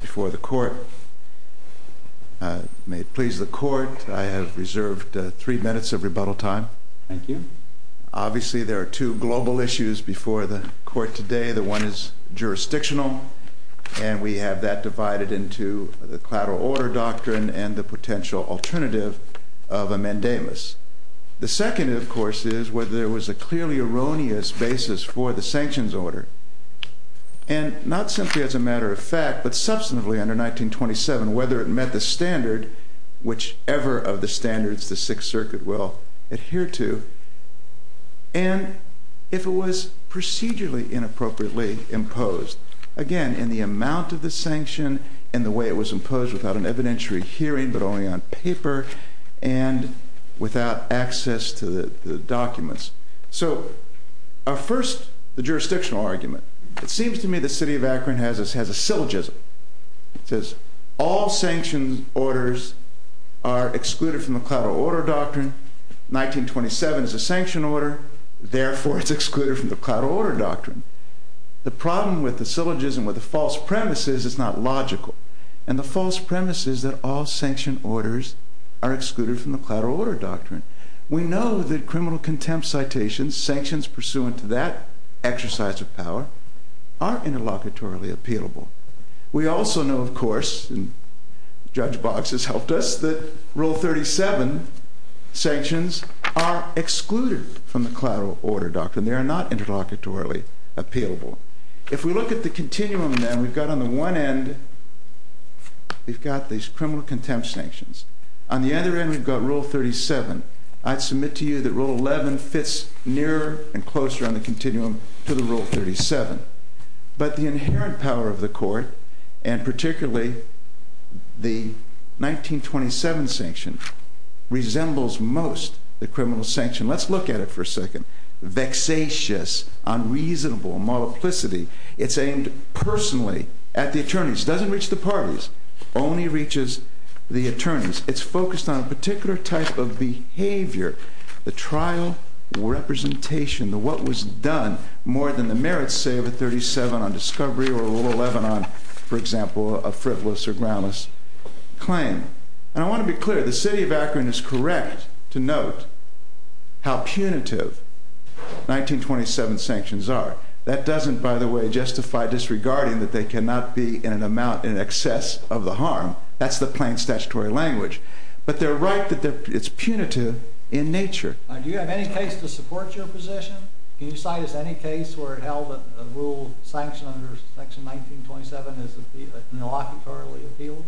Before the Court. May it please the Court, I have reserved three minutes of rebuttal time. Thank you. Obviously, there are two global issues before the Court today. The one is jurisdictional, and we have that divided into the collateral order doctrine and the potential alternative of a mandamus. The second, of course, is whether there was a clearly erroneous basis for the sanctions order. And not simply as a matter of fact, but substantively under 1927, whether it met the standard, whichever of the standards the Sixth Circuit will adhere to, and if it was procedurally inappropriately imposed. Again, in the amount of the sanction and the way it was imposed without an evidentiary hearing, but only on paper, and without access to the documents. So, our first, the jurisdictional argument. It seems to me that the City of Akron has a syllogism. It says, all sanctioned orders are excluded from the collateral order doctrine. 1927 is a sanctioned order, therefore it's excluded from the collateral order doctrine. The problem with the syllogism, with the false premise, is it's not logical. And the false premise is that all sanctioned orders are excluded from the collateral order doctrine. We know that criminal contempt citations, sanctions pursuant to that exercise of power, are interlocutorily appealable. We also know, of course, and Judge Boggs has helped us, that Rule 37 sanctions are excluded from the collateral order doctrine. They are not interlocutorily appealable. If we look at the continuum then, we've got on the one end, we've got these criminal contempt sanctions. On the other end, we've got Rule 37. I'd submit to you that Rule 11 fits nearer and closer on the continuum to the Rule 37. But the inherent power of the court, and particularly the 1927 sanction, resembles most the criminal sanction. Let's look at it for a second. Vexatious, unreasonable, multiplicity. It's aimed personally at the attorneys. It doesn't reach the parties. It only reaches the attorneys. It's focused on a particular type of behavior, the trial representation, the what was done more than the merits, say, of a 37 on discovery or a Rule 11 on, for example, a frivolous or groundless claim. And I want to be clear. The city of Akron is correct to note how punitive 1927 sanctions are. That doesn't, by the way, justify disregarding that they cannot be in an amount in excess of the harm. That's the plain statutory language. But they're right that it's punitive in nature. Do you have any case to support your position? Can you cite us any case where it held that a rule sanction under Section 1927 is inaugurally appealable?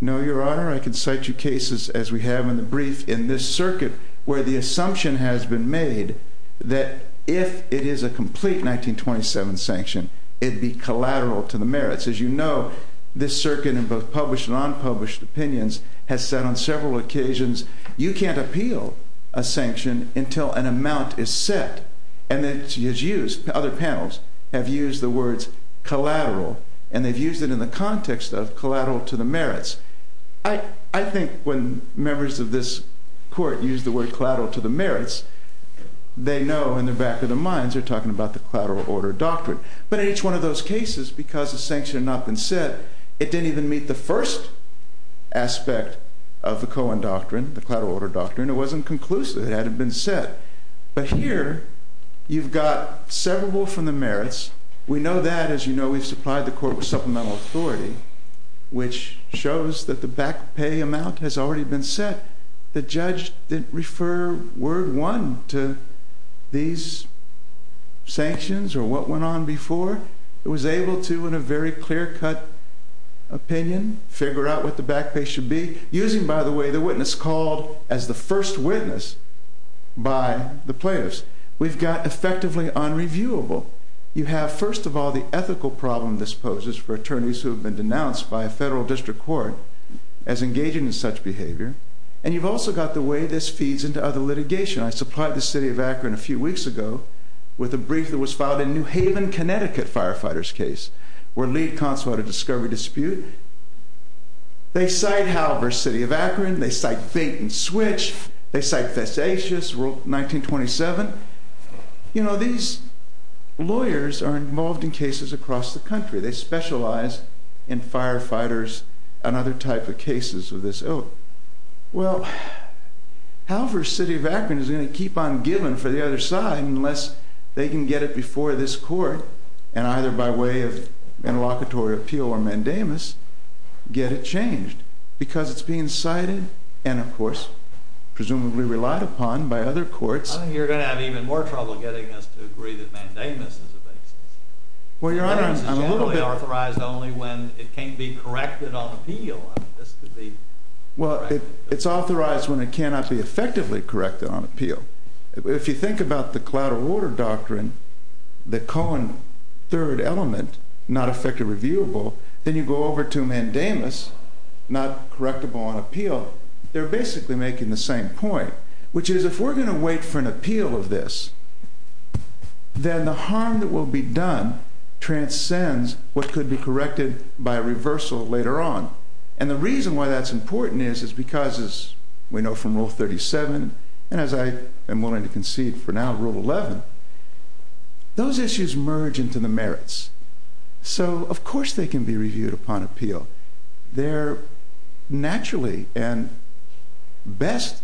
No, Your Honor. I can cite you cases, as we have in the brief, in this circuit, where the assumption has been made that if it is a complete 1927 sanction, it'd be collateral to the merits. As you know, this circuit in both published and unpublished opinions has said on several occasions, you can't appeal a sanction until an amount is set. And it's used, other panels have used the words collateral, and they've used it in the context of collateral to the merits. I think when members of this court use the word collateral to the merits, they know in the back of their minds they're talking about the collateral order doctrine. But in each one of those cases, because the sanction had not been set, it didn't even meet the first aspect of the Cohen doctrine, the collateral order doctrine. It wasn't conclusive. It hadn't been set. But here, you've got severable from the merits. We know that. As you know, we've supplied the court with supplemental authority, which shows that the back pay amount has already been set. The judge didn't refer word one to these sanctions or what went on before. It was able to, in a very clear-cut opinion, figure out what the back pay should be, using, by the way, the witness called as the first witness by the plaintiffs. We've got effectively unreviewable. You have, first of all, the ethical problem this poses for attorneys who have been denounced by a federal district court as engaging in such behavior. And you've also got the way this feeds into other litigation. I supplied the city of Akron a few weeks ago with a brief that was filed in New Haven, Connecticut, firefighter's case, where lead consular had a discovery dispute. They cite Hal versus city of Akron. They cite Fink and Switch. They cite facetious, Rule 1927. You know, these lawyers are involved in cases across the country. They specialize in firefighters and other type of cases of this ilk. Well, Hal versus city of Akron is going to keep on giving for the other side unless they can get it before this court and either by way of interlocutory appeal or mandamus get it changed, because it's being cited and, of course, presumably relied upon by other courts. I think you're going to have even more trouble getting us to agree that mandamus is a basis. Well, Your Honor, I'm a little bit— Mandamus is generally authorized only when it can be corrected on appeal. This could be corrected— Well, it's authorized when it cannot be effectively corrected on appeal. If you think about the cloud or water doctrine, the Cohen third element, not effectively reviewable, then you go over to mandamus, not correctable on appeal, they're basically making the same point, which is if we're going to wait for an appeal of this, then the harm that will be done transcends what could be corrected by a reversal later on. And the reason why that's important is because, as we know from Rule 37, and as I am willing to concede for now Rule 11, those issues merge into the merits. So, of course, they can be reviewed upon appeal. They're naturally and best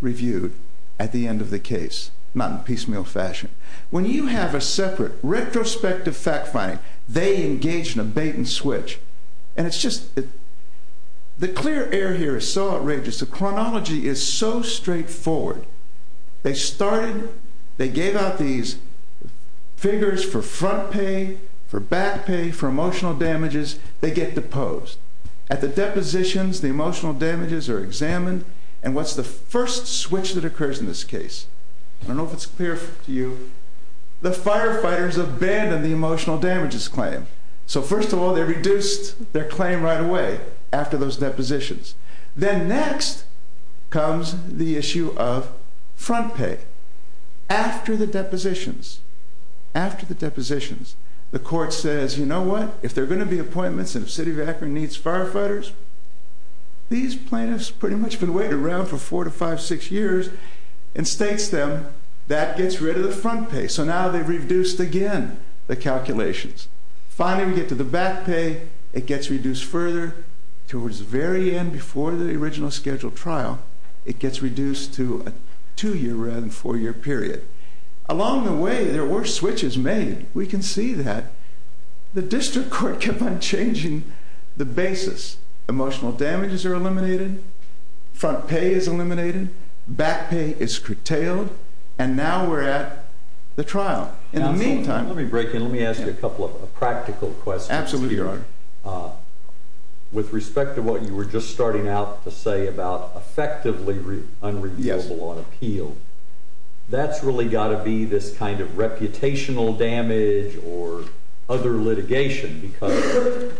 reviewed at the end of the case, not in piecemeal fashion. When you have a separate retrospective fact-finding, they engage in a bait-and-switch. And it's just—the clear air here is so outrageous. The chronology is so straightforward. They started—they gave out these figures for front pay, for back pay, for emotional damages. They get deposed. At the depositions, the emotional damages are examined. And what's the first switch that occurs in this case? I don't know if it's clear to you. The firefighters abandon the emotional damages claim. So, first of all, they reduced their claim right away after those depositions. Then next comes the issue of front pay. After the depositions, after the depositions, the court says, you know what, if there are going to be appointments and if City of Akron needs firefighters, these plaintiffs pretty much have been waiting around for four to five, six years, and states them that gets rid of the front pay. So now they've reduced again the calculations. Finally, we get to the back pay. It gets reduced further. Towards the very end, before the original scheduled trial, it gets reduced to a two-year rather than four-year period. Along the way, there were switches made. We can see that. The district court kept on changing the basis. Emotional damages are eliminated. Front pay is eliminated. Back pay is curtailed. And now we're at the trial. In the meantime— Let me break in. Let me ask you a couple of practical questions. Absolutely, Your Honor. With respect to what you were just starting out to say about effectively unreviewable on appeal, that's really got to be this kind of reputational damage or other litigation because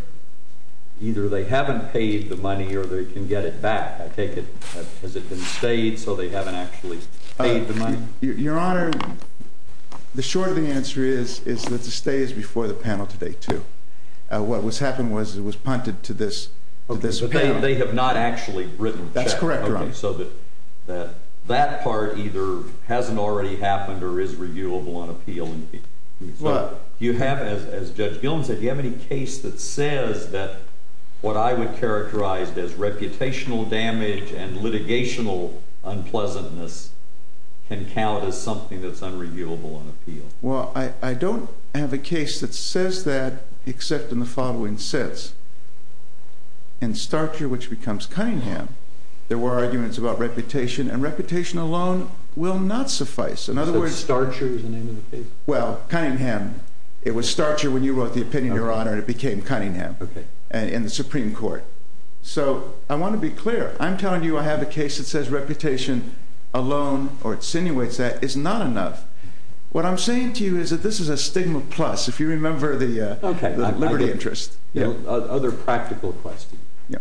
either they haven't paid the money or they can get it back. Has it been stayed so they haven't actually paid the money? Your Honor, the short of the answer is that the stay is before the panel today, too. What has happened was it was punted to this— They have not actually written a check. That's correct, Your Honor. So that part either hasn't already happened or is reviewable on appeal. You have, as Judge Gilman said, you have any case that says that what I would characterize as reputational damage and litigational unpleasantness can count as something that's unreviewable on appeal? Well, I don't have a case that says that except in the following sense. In Starcher, which becomes Cunningham, there were arguments about reputation, and reputation alone will not suffice. So Starcher is the name of the case? Well, Cunningham. It was Starcher when you wrote the opinion, Your Honor, and it became Cunningham in the Supreme Court. So I want to be clear. I'm telling you I have a case that says reputation alone or insinuates that is not enough. What I'm saying to you is that this is a stigma plus, if you remember the liberty interest. Okay. Other practical question.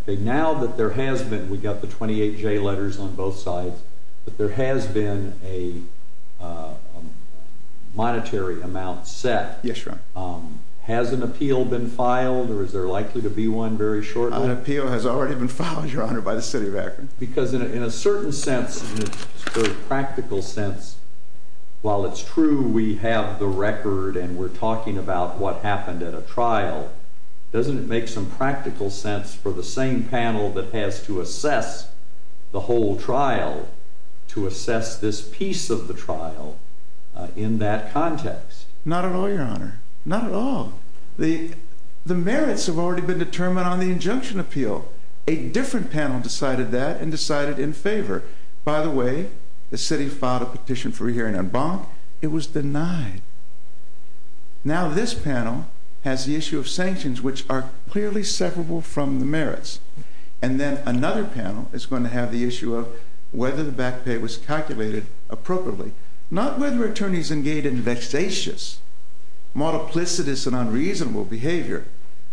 Now that there has been—we got the 28J letters on both sides— that there has been a monetary amount set. Yes, Your Honor. Has an appeal been filed or is there likely to be one very shortly? An appeal has already been filed, Your Honor, by the city of Akron. Because in a certain sense, in a sort of practical sense, while it's true we have the record and we're talking about what happened at a trial, doesn't it make some practical sense for the same panel that has to assess the whole trial to assess this piece of the trial in that context? Not at all, Your Honor. Not at all. The merits have already been determined on the injunction appeal. A different panel decided that and decided in favor. By the way, the city filed a petition for a hearing on Bonk. It was denied. Now this panel has the issue of sanctions, which are clearly separable from the merits. And then another panel is going to have the issue of whether the back pay was calculated appropriately. Not whether attorneys engage in vexatious, multiplicitous, and unreasonable behavior.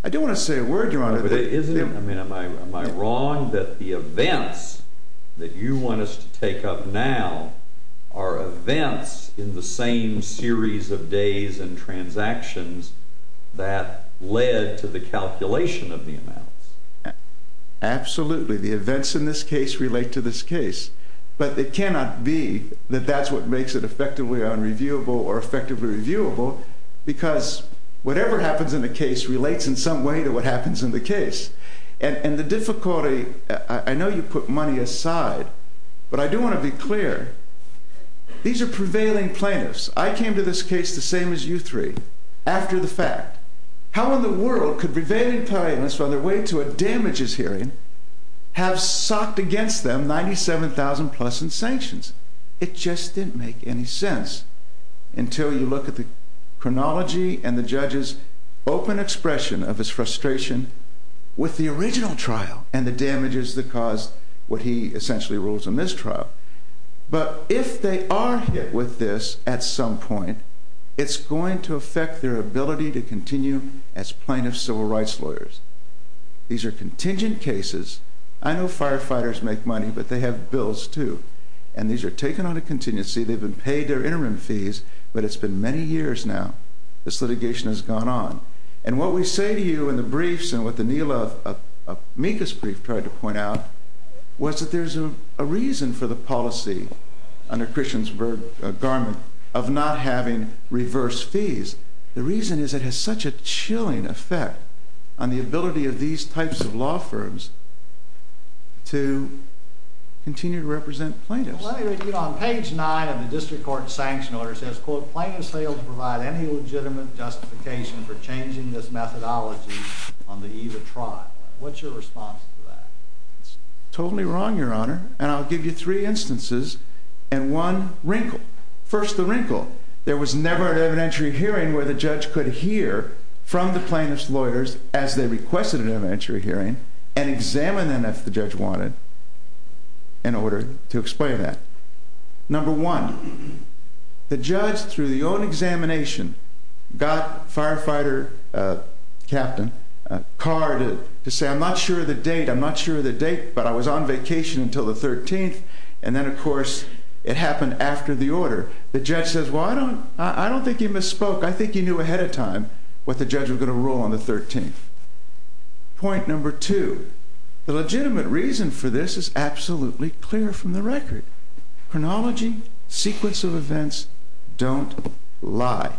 I don't want to say a word, Your Honor. Am I wrong that the events that you want us to take up now are events in the same series of days and transactions that led to the calculation of the amounts? Absolutely. The events in this case relate to this case. But it cannot be that that's what makes it effectively unreviewable or effectively reviewable because whatever happens in the case relates in some way to what happens in the case. And the difficulty, I know you put money aside, but I do want to be clear. These are prevailing plaintiffs. I came to this case the same as you three, after the fact. How in the world could prevailing plaintiffs, on their way to a damages hearing, have socked against them $97,000 plus in sanctions? It just didn't make any sense until you look at the chronology and the judge's open expression of his frustration with the original trial and the damages that caused what he essentially rules a mistrial. But if they are hit with this at some point, it's going to affect their ability to continue as plaintiff civil rights lawyers. These are contingent cases. I know firefighters make money, but they have bills, too. And these are taken on a contingency. They've been paid their interim fees, but it's been many years now. This litigation has gone on. And what we say to you in the briefs and what the Neal of Mika's brief tried to point out was that there's a reason for the policy, under Christian's garment, of not having reverse fees. The reason is it has such a chilling effect on the ability of these types of law firms to continue to represent plaintiffs. Let me read you on page 9 of the district court sanction order. It says, quote, plaintiffs failed to provide any legitimate justification for changing this methodology on the eve of trial. What's your response to that? It's totally wrong, Your Honor. And I'll give you three instances and one wrinkle. First, the wrinkle. There was never an evidentiary hearing where the judge could hear from the plaintiff's lawyers as they requested an evidentiary hearing and examine them if the judge wanted in order to explain that. Number one, the judge, through the own examination, got firefighter captain Carr to say, I'm not sure of the date, I'm not sure of the date, but I was on vacation until the 13th. And then, of course, it happened after the order. The judge says, well, I don't think you misspoke. I think you knew ahead of time what the judge was going to rule on the 13th. Point number two, the legitimate reason for this is absolutely clear from the record. Chronology, sequence of events don't lie.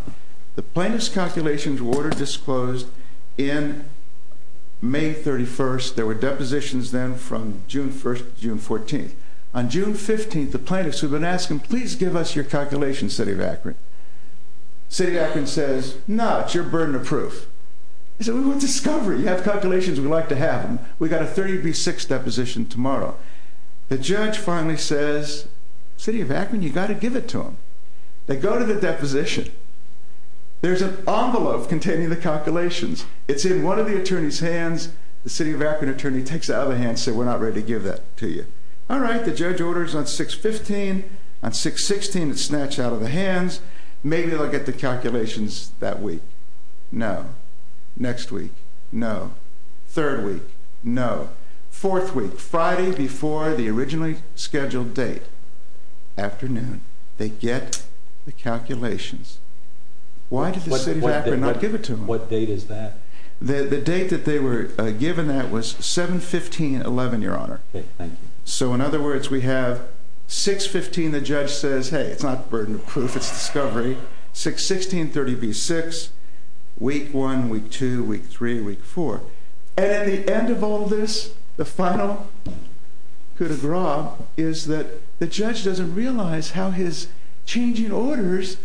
The plaintiff's calculations were order disclosed in May 31st. There were depositions then from June 1st to June 14th. On June 15th, the plaintiffs had been asking, please give us your calculations, City of Akron. City of Akron says, no, it's your burden of proof. He said, we want discovery. You have calculations, we'd like to have them. We've got a 30B6 deposition tomorrow. The judge finally says, City of Akron, you've got to give it to them. They go to the deposition. There's an envelope containing the calculations. It's in one of the attorney's hands. The City of Akron attorney takes it out of the hand and says, we're not ready to give that to you. All right, the judge orders on 6-15. On 6-16, it's snatched out of the hands. Maybe they'll get the calculations that week. No. Next week, no. Third week, no. Fourth week, Friday before the originally scheduled date. Afternoon, they get the calculations. Why did the City of Akron not give it to them? What date is that? The date that they were given that was 7-15-11, Your Honor. Okay, thank you. So in other words, we have 6-15, the judge says, hey, it's not burden of proof, it's discovery. 6-16, 30B6. Week one, week two, week three, week four. And at the end of all this, the final coup de grace is that the judge doesn't realize how his changing orders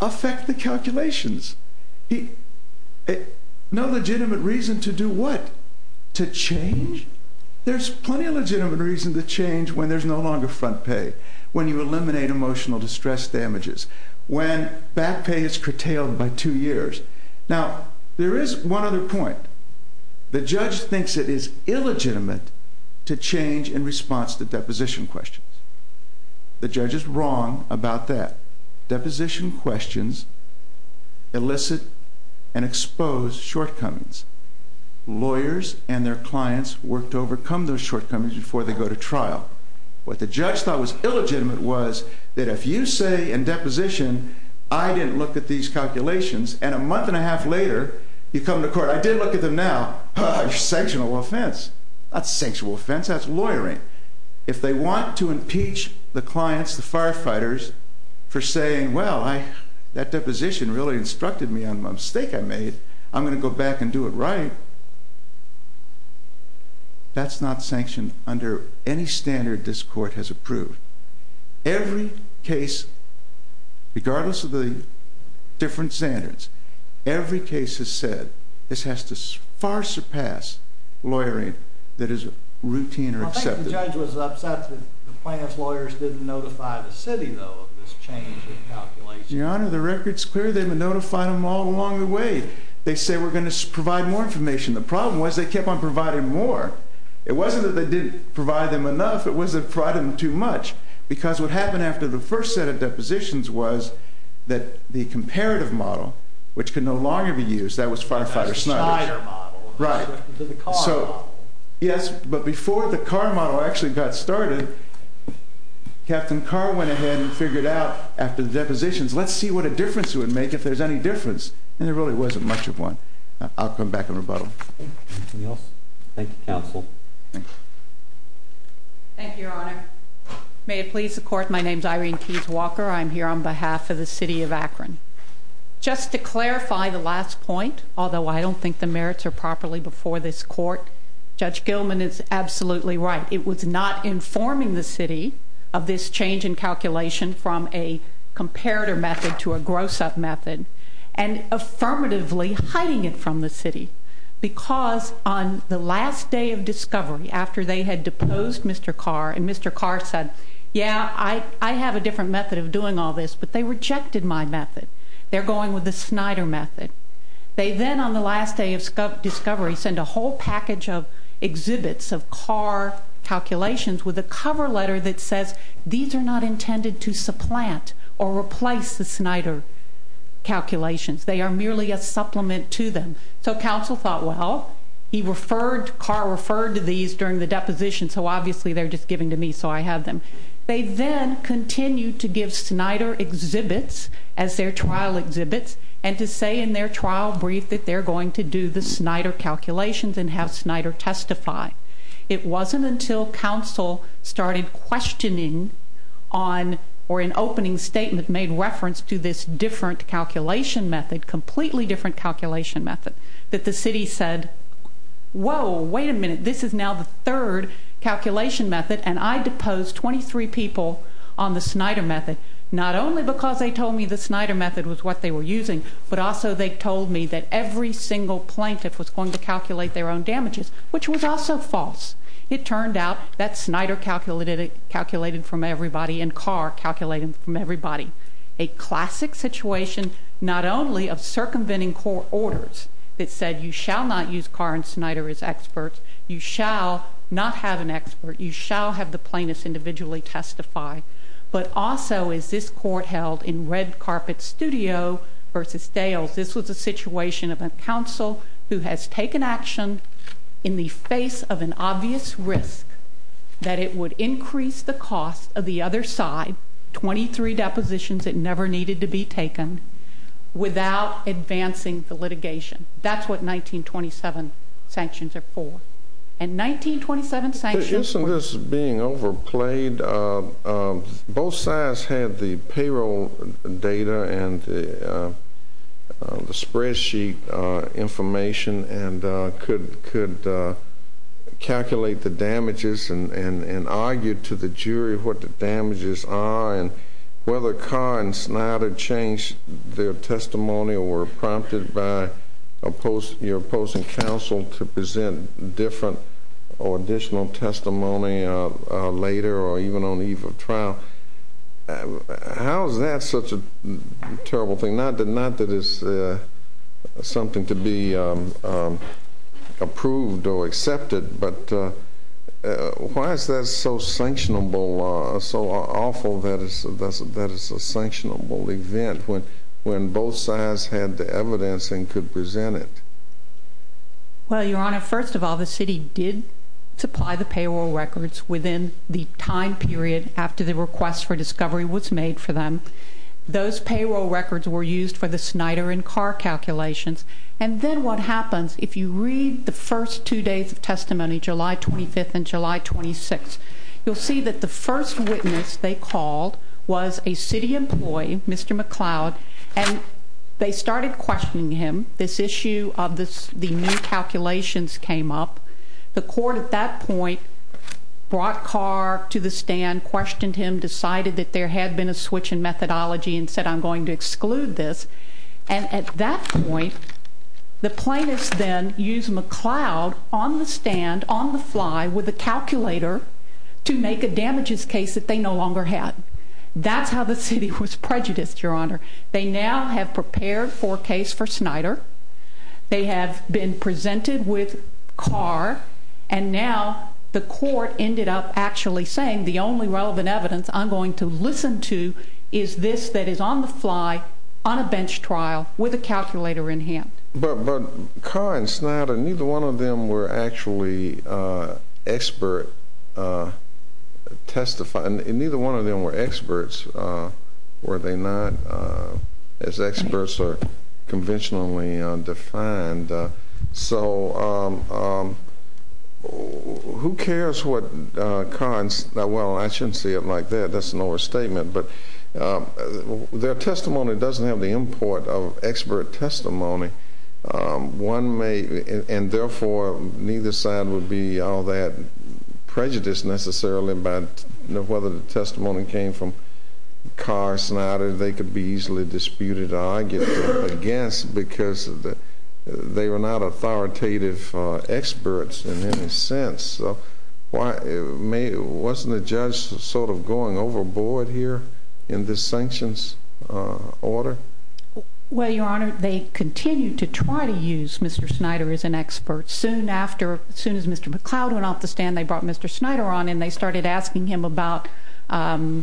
affect the calculations. No legitimate reason to do what? To change? There's plenty of legitimate reason to change when there's no longer front pay. When you eliminate emotional distress damages. When back pay is curtailed by two years. Now, there is one other point. The judge thinks it is illegitimate to change in response to deposition questions. The judge is wrong about that. Deposition questions elicit and expose shortcomings. Lawyers and their clients work to overcome those shortcomings before they go to trial. What the judge thought was illegitimate was that if you say in deposition, I didn't look at these calculations, and a month and a half later, you come to court, I did look at them now, you're sanctioning an offense. That's not sanctioning an offense, that's lawyering. If they want to impeach the clients, the firefighters, for saying, well, that deposition really instructed me on a mistake I made, I'm going to go back and do it right, that's not sanctioned under any standard this court has approved. Every case, regardless of the different standards, every case has said, this has to far surpass lawyering that is routine or acceptable. The judge was upset that the client's lawyers didn't notify the city, though, of this change in calculations. Your Honor, the record's clear. They notified them all along the way. They said, we're going to provide more information. The problem was they kept on providing more. It wasn't that they didn't provide them enough, it was that they provided them too much, because what happened after the first set of depositions was that the comparative model, which could no longer be used, that was firefighter-sniper. The spider model. Right. The car model. Yes, but before the car model actually got started, Captain Carr went ahead and figured out, after the depositions, let's see what a difference it would make, if there's any difference. And there really wasn't much of one. I'll come back and rebuttal. Anything else? Thank you, counsel. Thank you. Thank you, Your Honor. May it please the court, my name's Irene Keyes-Walker. I'm here on behalf of the city of Akron. Just to clarify the last point, although I don't think the merits are properly before this court, Judge Gilman is absolutely right. It was not informing the city of this change in calculation from a comparator method to a gross-up method, and affirmatively hiding it from the city, because on the last day of discovery, after they had deposed Mr. Carr, and Mr. Carr said, yeah, I have a different method of doing all this, but they rejected my method. They're going with the Snyder method. They then, on the last day of discovery, sent a whole package of exhibits of Carr calculations with a cover letter that says, these are not intended to supplant or replace the Snyder calculations. They are merely a supplement to them. So counsel thought, well, he referred, Carr referred to these during the deposition, so obviously they're just giving to me, so I have them. They then continued to give Snyder exhibits as their trial exhibits, and to say in their trial brief that they're going to do the Snyder calculations and have Snyder testify. It wasn't until counsel started questioning on, or an opening statement made reference to this different calculation method, completely different calculation method, that the city said, whoa, wait a minute, this is now the third calculation method, and I deposed 23 people on the Snyder method, not only because they told me the Snyder method was what they were using, but also they told me that every single plaintiff was going to calculate their own damages, which was also false. It turned out that Snyder calculated from everybody and Carr calculated from everybody. A classic situation, not only of circumventing court orders that said you shall not use Carr and Snyder as experts, you shall not have an expert, you shall have the plaintiffs individually testify. But also, as this court held in red carpet studio versus Dales, this was a situation of a counsel who has taken action in the face of an obvious risk that it would increase the cost of the other side, 23 depositions that never needed to be taken, without advancing the litigation. That's what 1927 sanctions are for. And 1927 sanctions were- Isn't this being overplayed? Both sides had the payroll data and the spreadsheet information and could calculate the damages and argue to the jury what the damages are and whether Carr and Snyder changed their testimony or were prompted by your opposing counsel to present different or additional testimony later or even on the eve of trial. How is that such a terrible thing? Not that it's something to be approved or accepted, but why is that so sanctionable, so awful that it's a sanctionable event when both sides had the evidence and could present it? Well, Your Honor, first of all, the city did supply the payroll records within the time period after the request for discovery was made for them. Those payroll records were used for the Snyder and Carr calculations. And then what happens if you read the first two days of testimony, July 25th and July 26th, you'll see that the first witness they called was a city employee, Mr. McCloud, and they started questioning him. This issue of the new calculations came up. The court at that point brought Carr to the stand, questioned him, decided that there had been a switch in methodology and said, I'm going to exclude this. And at that point, the plaintiffs then used McCloud on the stand, on the fly, with a calculator to make a damages case that they no longer had. That's how the city was prejudiced, Your Honor. They now have prepared for a case for Snyder. They have been presented with Carr. And now the court ended up actually saying the only relevant evidence I'm going to listen to is this that is on the fly, on a bench trial, with a calculator in hand. But Carr and Snyder, neither one of them were actually expert testifiers. Neither one of them were experts, were they not, as experts are conventionally defined. And so who cares what Carr, well, I shouldn't say it like that. That's an overstatement. But their testimony doesn't have the import of expert testimony. One may, and therefore, neither side would be all that prejudiced necessarily they could be easily disputed or argued against because they were not authoritative experts in any sense. Wasn't the judge sort of going overboard here in this sanctions order? Well, Your Honor, they continued to try to use Mr. Snyder as an expert. As soon as Mr. McCloud went off the stand, they brought Mr. Snyder on, and they started asking him about I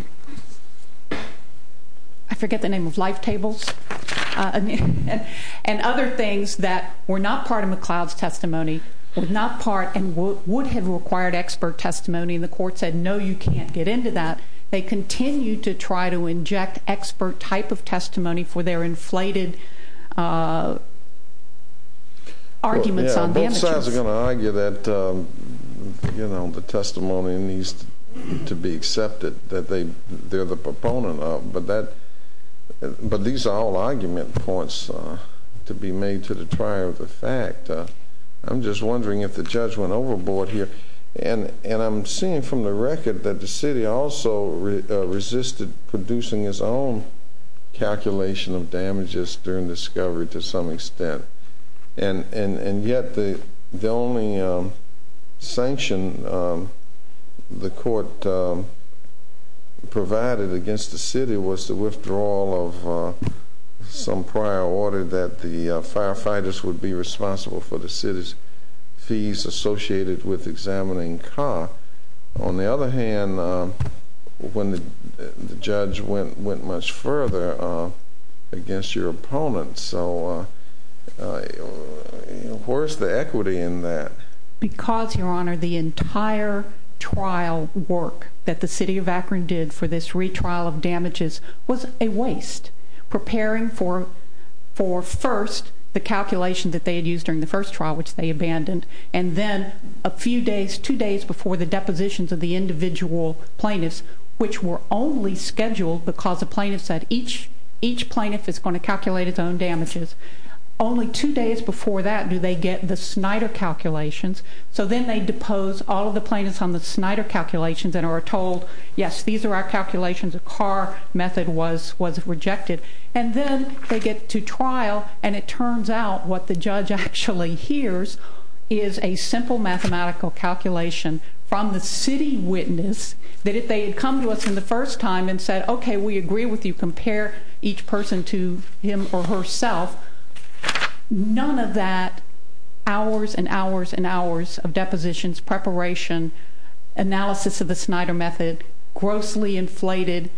forget the name of life tables and other things that were not part of McCloud's testimony, were not part and would have required expert testimony. And the court said, no, you can't get into that. They continued to try to inject expert type of testimony for their inflated arguments on damages. Both sides are going to argue that the testimony needs to be accepted, that they're the proponent of. But these are all argument points to be made to the trier of the fact. I'm just wondering if the judge went overboard here. And I'm seeing from the record that the city also resisted producing its own calculation of damages during discovery to some extent. And yet the only sanction the court provided against the city was the withdrawal of some prior order that the firefighters would be responsible for the city's fees associated with examining car. On the other hand, when the judge went much further against your opponents, so where's the equity in that? Because, Your Honor, the entire trial work that the city of Akron did for this retrial of damages was a waste. Preparing for first the calculation that they had used during the first trial, which they abandoned, and then a few days, two days before the depositions of the individual plaintiffs, which were only scheduled because the plaintiff said each plaintiff is going to calculate its own damages. Only two days before that do they get the Snyder calculations. So then they depose all of the plaintiffs on the Snyder calculations and are told, yes, these are our calculations. A car method was rejected. And then they get to trial, and it turns out what the judge actually hears is a simple mathematical calculation from the city witness that if they had come to us in the first time and said, okay, we agree with you, compare each person to him or herself, none of that hours and hours and hours of depositions, preparation, analysis of the Snyder method, grossly inflated,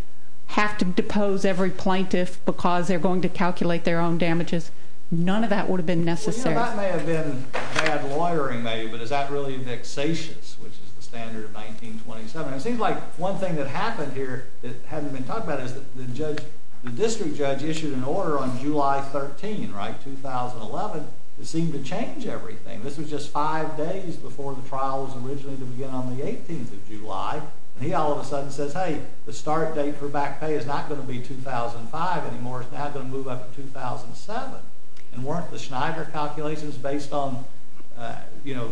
have to depose every plaintiff because they're going to calculate their own damages, none of that would have been necessary. Well, that may have been bad lawyering, maybe, but is that really vexatious, which is the standard of 1927? It seems like one thing that happened here that hasn't been talked about is the district judge issued an order on July 13, 2011, that seemed to change everything. This was just five days before the trial was originally to begin on the 18th of July, and he all of a sudden says, hey, the start date for back pay is not going to be 2005 anymore. It's now going to move up to 2007. And weren't the Snyder calculations based on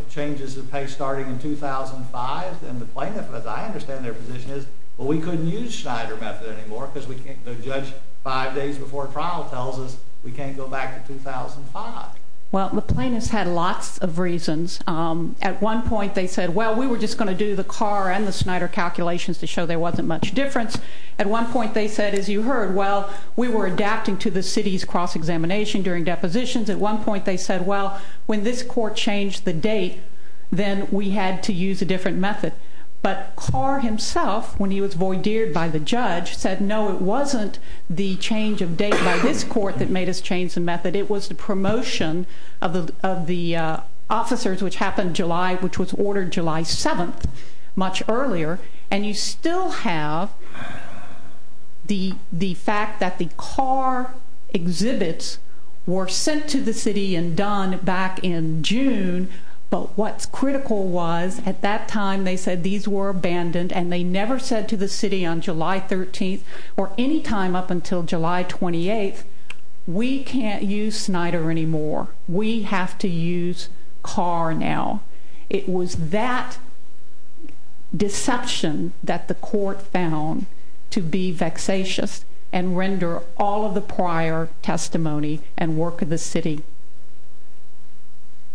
changes in pay starting in 2005? And the plaintiff, as I understand their position, is, well, we couldn't use Snyder method anymore because the judge five days before trial tells us we can't go back to 2005. Well, the plaintiffs had lots of reasons. At one point they said, well, we were just going to do the Carr and the Snyder calculations to show there wasn't much difference. At one point they said, as you heard, well, we were adapting to the city's cross-examination during depositions. At one point they said, well, when this court changed the date, then we had to use a different method. But Carr himself, when he was voir dired by the judge, said, no, it wasn't the change of date by this court that made us change the method. It was the promotion of the officers, which happened July, which was ordered July 7th, much earlier. And you still have the fact that the Carr exhibits were sent to the city and done back in June, but what's critical was at that time they said these were abandoned and they never said to the city on July 13th or any time up until July 28th, we can't use Snyder anymore. We have to use Carr now. It was that deception that the court found to be vexatious and render all of the prior testimony and work of the city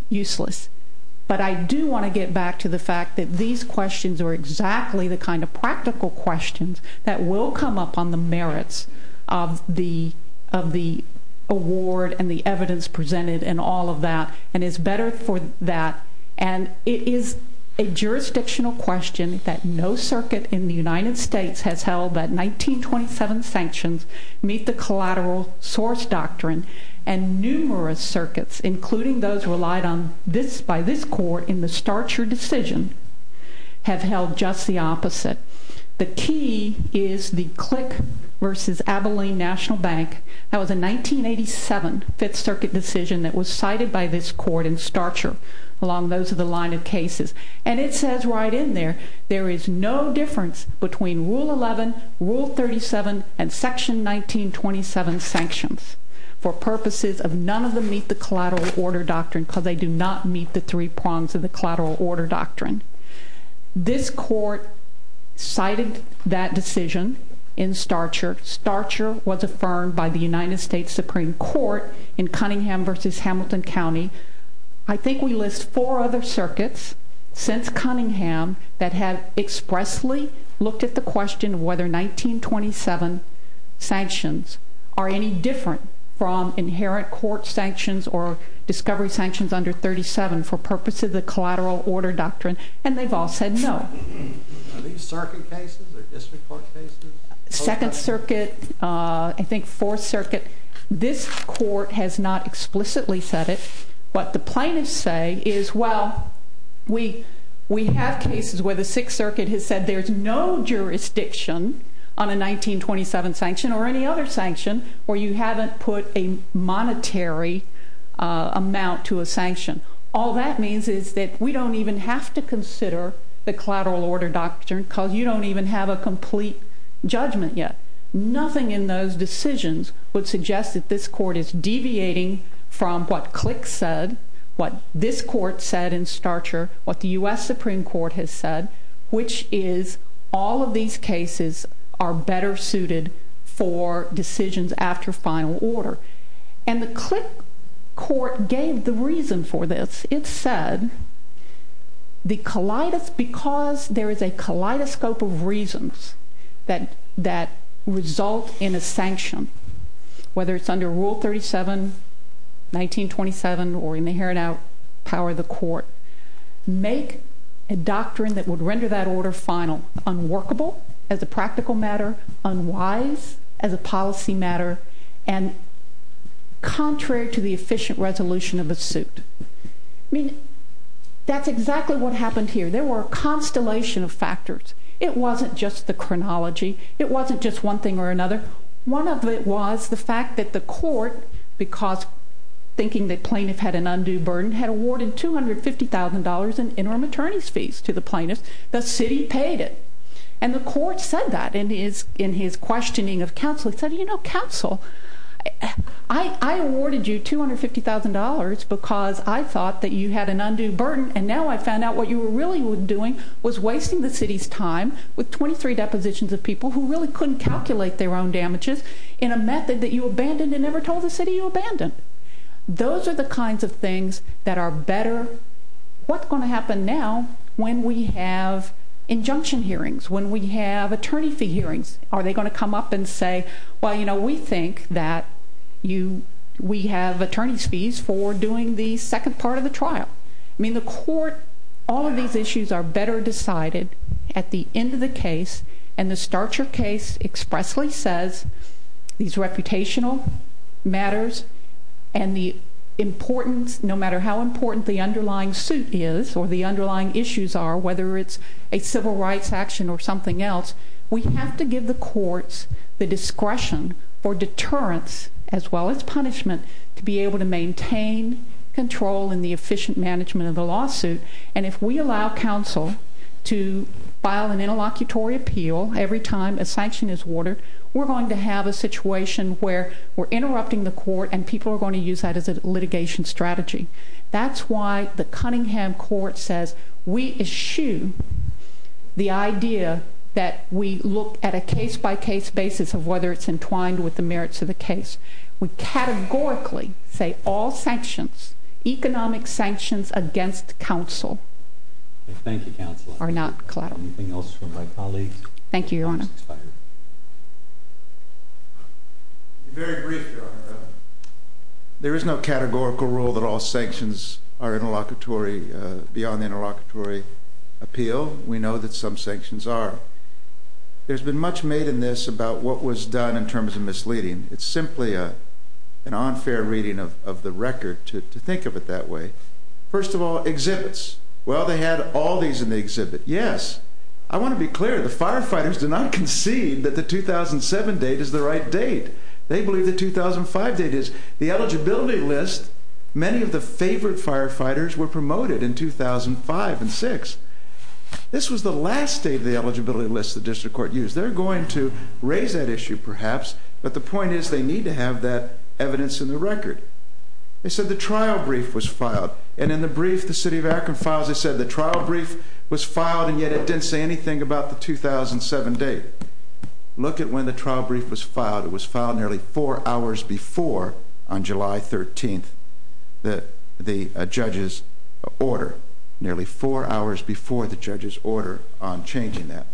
useless. But I do want to get back to the fact that these questions are exactly the kind of practical questions that will come up on the merits of the award and the evidence presented and all of that, and is better for that, and it is a jurisdictional question that no circuit in the United States has held that 1927 sanctions meet the collateral source doctrine, and numerous circuits, including those relied on by this court in the Starcher decision, have held just the opposite. The key is the Click versus Abilene National Bank. That was a 1987 Fifth Circuit decision that was cited by this court in Starcher along those of the line of cases, and it says right in there there is no difference between Rule 11, Rule 37, and Section 1927 sanctions for purposes of none of them meet the collateral order doctrine because they do not meet the three prongs of the collateral order doctrine. This court cited that decision in Starcher. Starcher was affirmed by the United States Supreme Court in Cunningham versus Hamilton County. I think we list four other circuits since Cunningham that have expressly looked at the question of whether 1927 sanctions are any different from inherent court sanctions or discovery sanctions under 37 for purposes of the collateral order doctrine, and they've all said no. Are these circuit cases or district court cases? Second Circuit, I think Fourth Circuit. This court has not explicitly said it. What the plaintiffs say is, well, we have cases where the Sixth Circuit has said there's no jurisdiction on a 1927 sanction or any other sanction where you haven't put a monetary amount to a sanction. All that means is that we don't even have to consider the collateral order doctrine because you don't even have a complete judgment yet. Nothing in those decisions would suggest that this court is deviating from what Click said, what this court said in Starcher, what the U.S. Supreme Court has said, which is all of these cases are better suited for decisions after final order. And the Click court gave the reason for this. It said because there is a kaleidoscope of reasons that result in a sanction, whether it's under Rule 37, 1927, or in the inherent power of the court, make a doctrine that would render that order final, unworkable as a practical matter, unwise as a policy matter, and contrary to the efficient resolution of a suit. I mean, that's exactly what happened here. There were a constellation of factors. It wasn't just the chronology. It wasn't just one thing or another. One of it was the fact that the court, because thinking the plaintiff had an undue burden, had awarded $250,000 in interim attorney's fees to the plaintiff. The city paid it. And the court said that in his questioning of counsel. He said, you know, counsel, I awarded you $250,000 because I thought that you had an undue burden, and now I found out what you were really doing was wasting the city's time with 23 depositions of people who really couldn't calculate their own damages in a method that you abandoned and never told the city you abandoned. Those are the kinds of things that are better. What's going to happen now when we have injunction hearings? When we have attorney fee hearings? Are they going to come up and say, well, you know, we think that we have attorney's fees for doing the second part of the trial. I mean, the court, all of these issues are better decided at the end of the case, and the Starcher case expressly says these reputational matters and the importance, no matter how important the underlying suit is or the underlying issues are, whether it's a civil rights action or something else, we have to give the courts the discretion or deterrence as well as punishment to be able to maintain control in the efficient management of the lawsuit. And if we allow counsel to file an interlocutory appeal every time a sanction is ordered, we're going to have a situation where we're interrupting the court and people are going to use that as a litigation strategy. That's why the Cunningham Court says we eschew the idea that we look at a case-by-case basis of whether it's entwined with the merits of the case. We categorically say all sanctions, economic sanctions against counsel are not collateral. Anything else from my colleagues? Thank you, Your Honor. Very brief, Your Honor. There is no categorical rule that all sanctions are beyond the interlocutory appeal. We know that some sanctions are. There's been much made in this about what was done in terms of misleading. It's simply an unfair reading of the record to think of it that way. First of all, exhibits. Well, they had all these in the exhibit. Yes. I want to be clear. The firefighters did not concede that the 2007 date is the right date. They believe the 2005 date is. The eligibility list, many of the favored firefighters were promoted in 2005 and 2006. This was the last date of the eligibility list the district court used. They're going to raise that issue perhaps, but the point is they need to have that evidence in the record. They said the trial brief was filed, and in the brief the city of Akron files they said the trial brief was filed and yet it didn't say anything about the 2007 date. Look at when the trial brief was filed. It was filed nearly four hours before on July 13th, the judge's order, nearly four hours before the judge's order on changing that.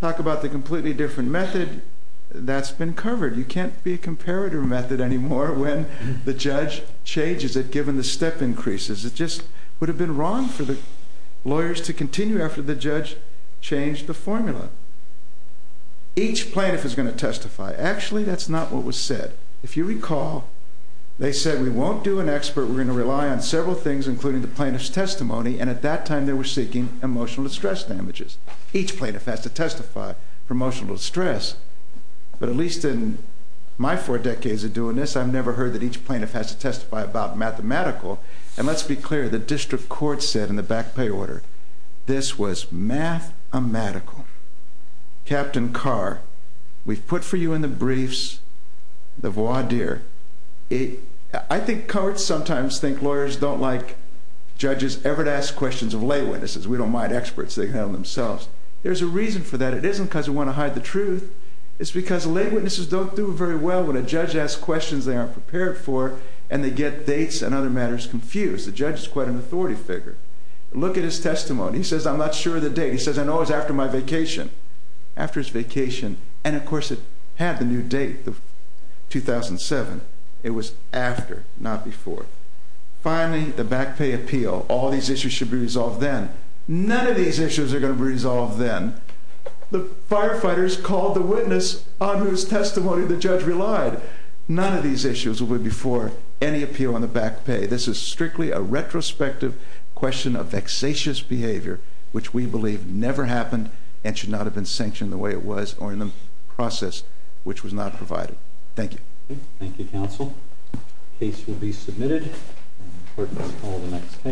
Talk about the completely different method. That's been covered. You can't be a comparator method anymore when the judge changes it given the step increases. It just would have been wrong for the lawyers to continue after the judge changed the formula. Each plaintiff is going to testify. Actually, that's not what was said. If you recall, they said we won't do an expert. We're going to rely on several things, including the plaintiff's testimony, and at that time they were seeking emotional distress damages. Each plaintiff has to testify for emotional distress, but at least in my four decades of doing this, I've never heard that each plaintiff has to testify about mathematical, and let's be clear. The district court said in the back pay order this was mathematical. Captain Carr, we've put for you in the briefs the voir dire. I think courts sometimes think lawyers don't like judges ever to ask questions of lay witnesses. We don't mind experts. They can handle themselves. There's a reason for that. It isn't because we want to hide the truth. It's because lay witnesses don't do very well when a judge asks questions they aren't prepared for and they get dates and other matters confused. The judge is quite an authority figure. Look at his testimony. He says, I'm not sure of the date. He says, I know it was after my vacation. After his vacation, and of course it had the new date, 2007. It was after, not before. Finally, the back pay appeal. All these issues should be resolved then. None of these issues are going to be resolved then. The firefighters called the witness on whose testimony the judge relied. None of these issues will be before any appeal on the back pay. This is strictly a retrospective question of vexatious behavior, which we believe never happened and should not have been sanctioned the way it was or in the process which was not provided. Thank you, counsel. The case will be submitted. Court is called on the next case.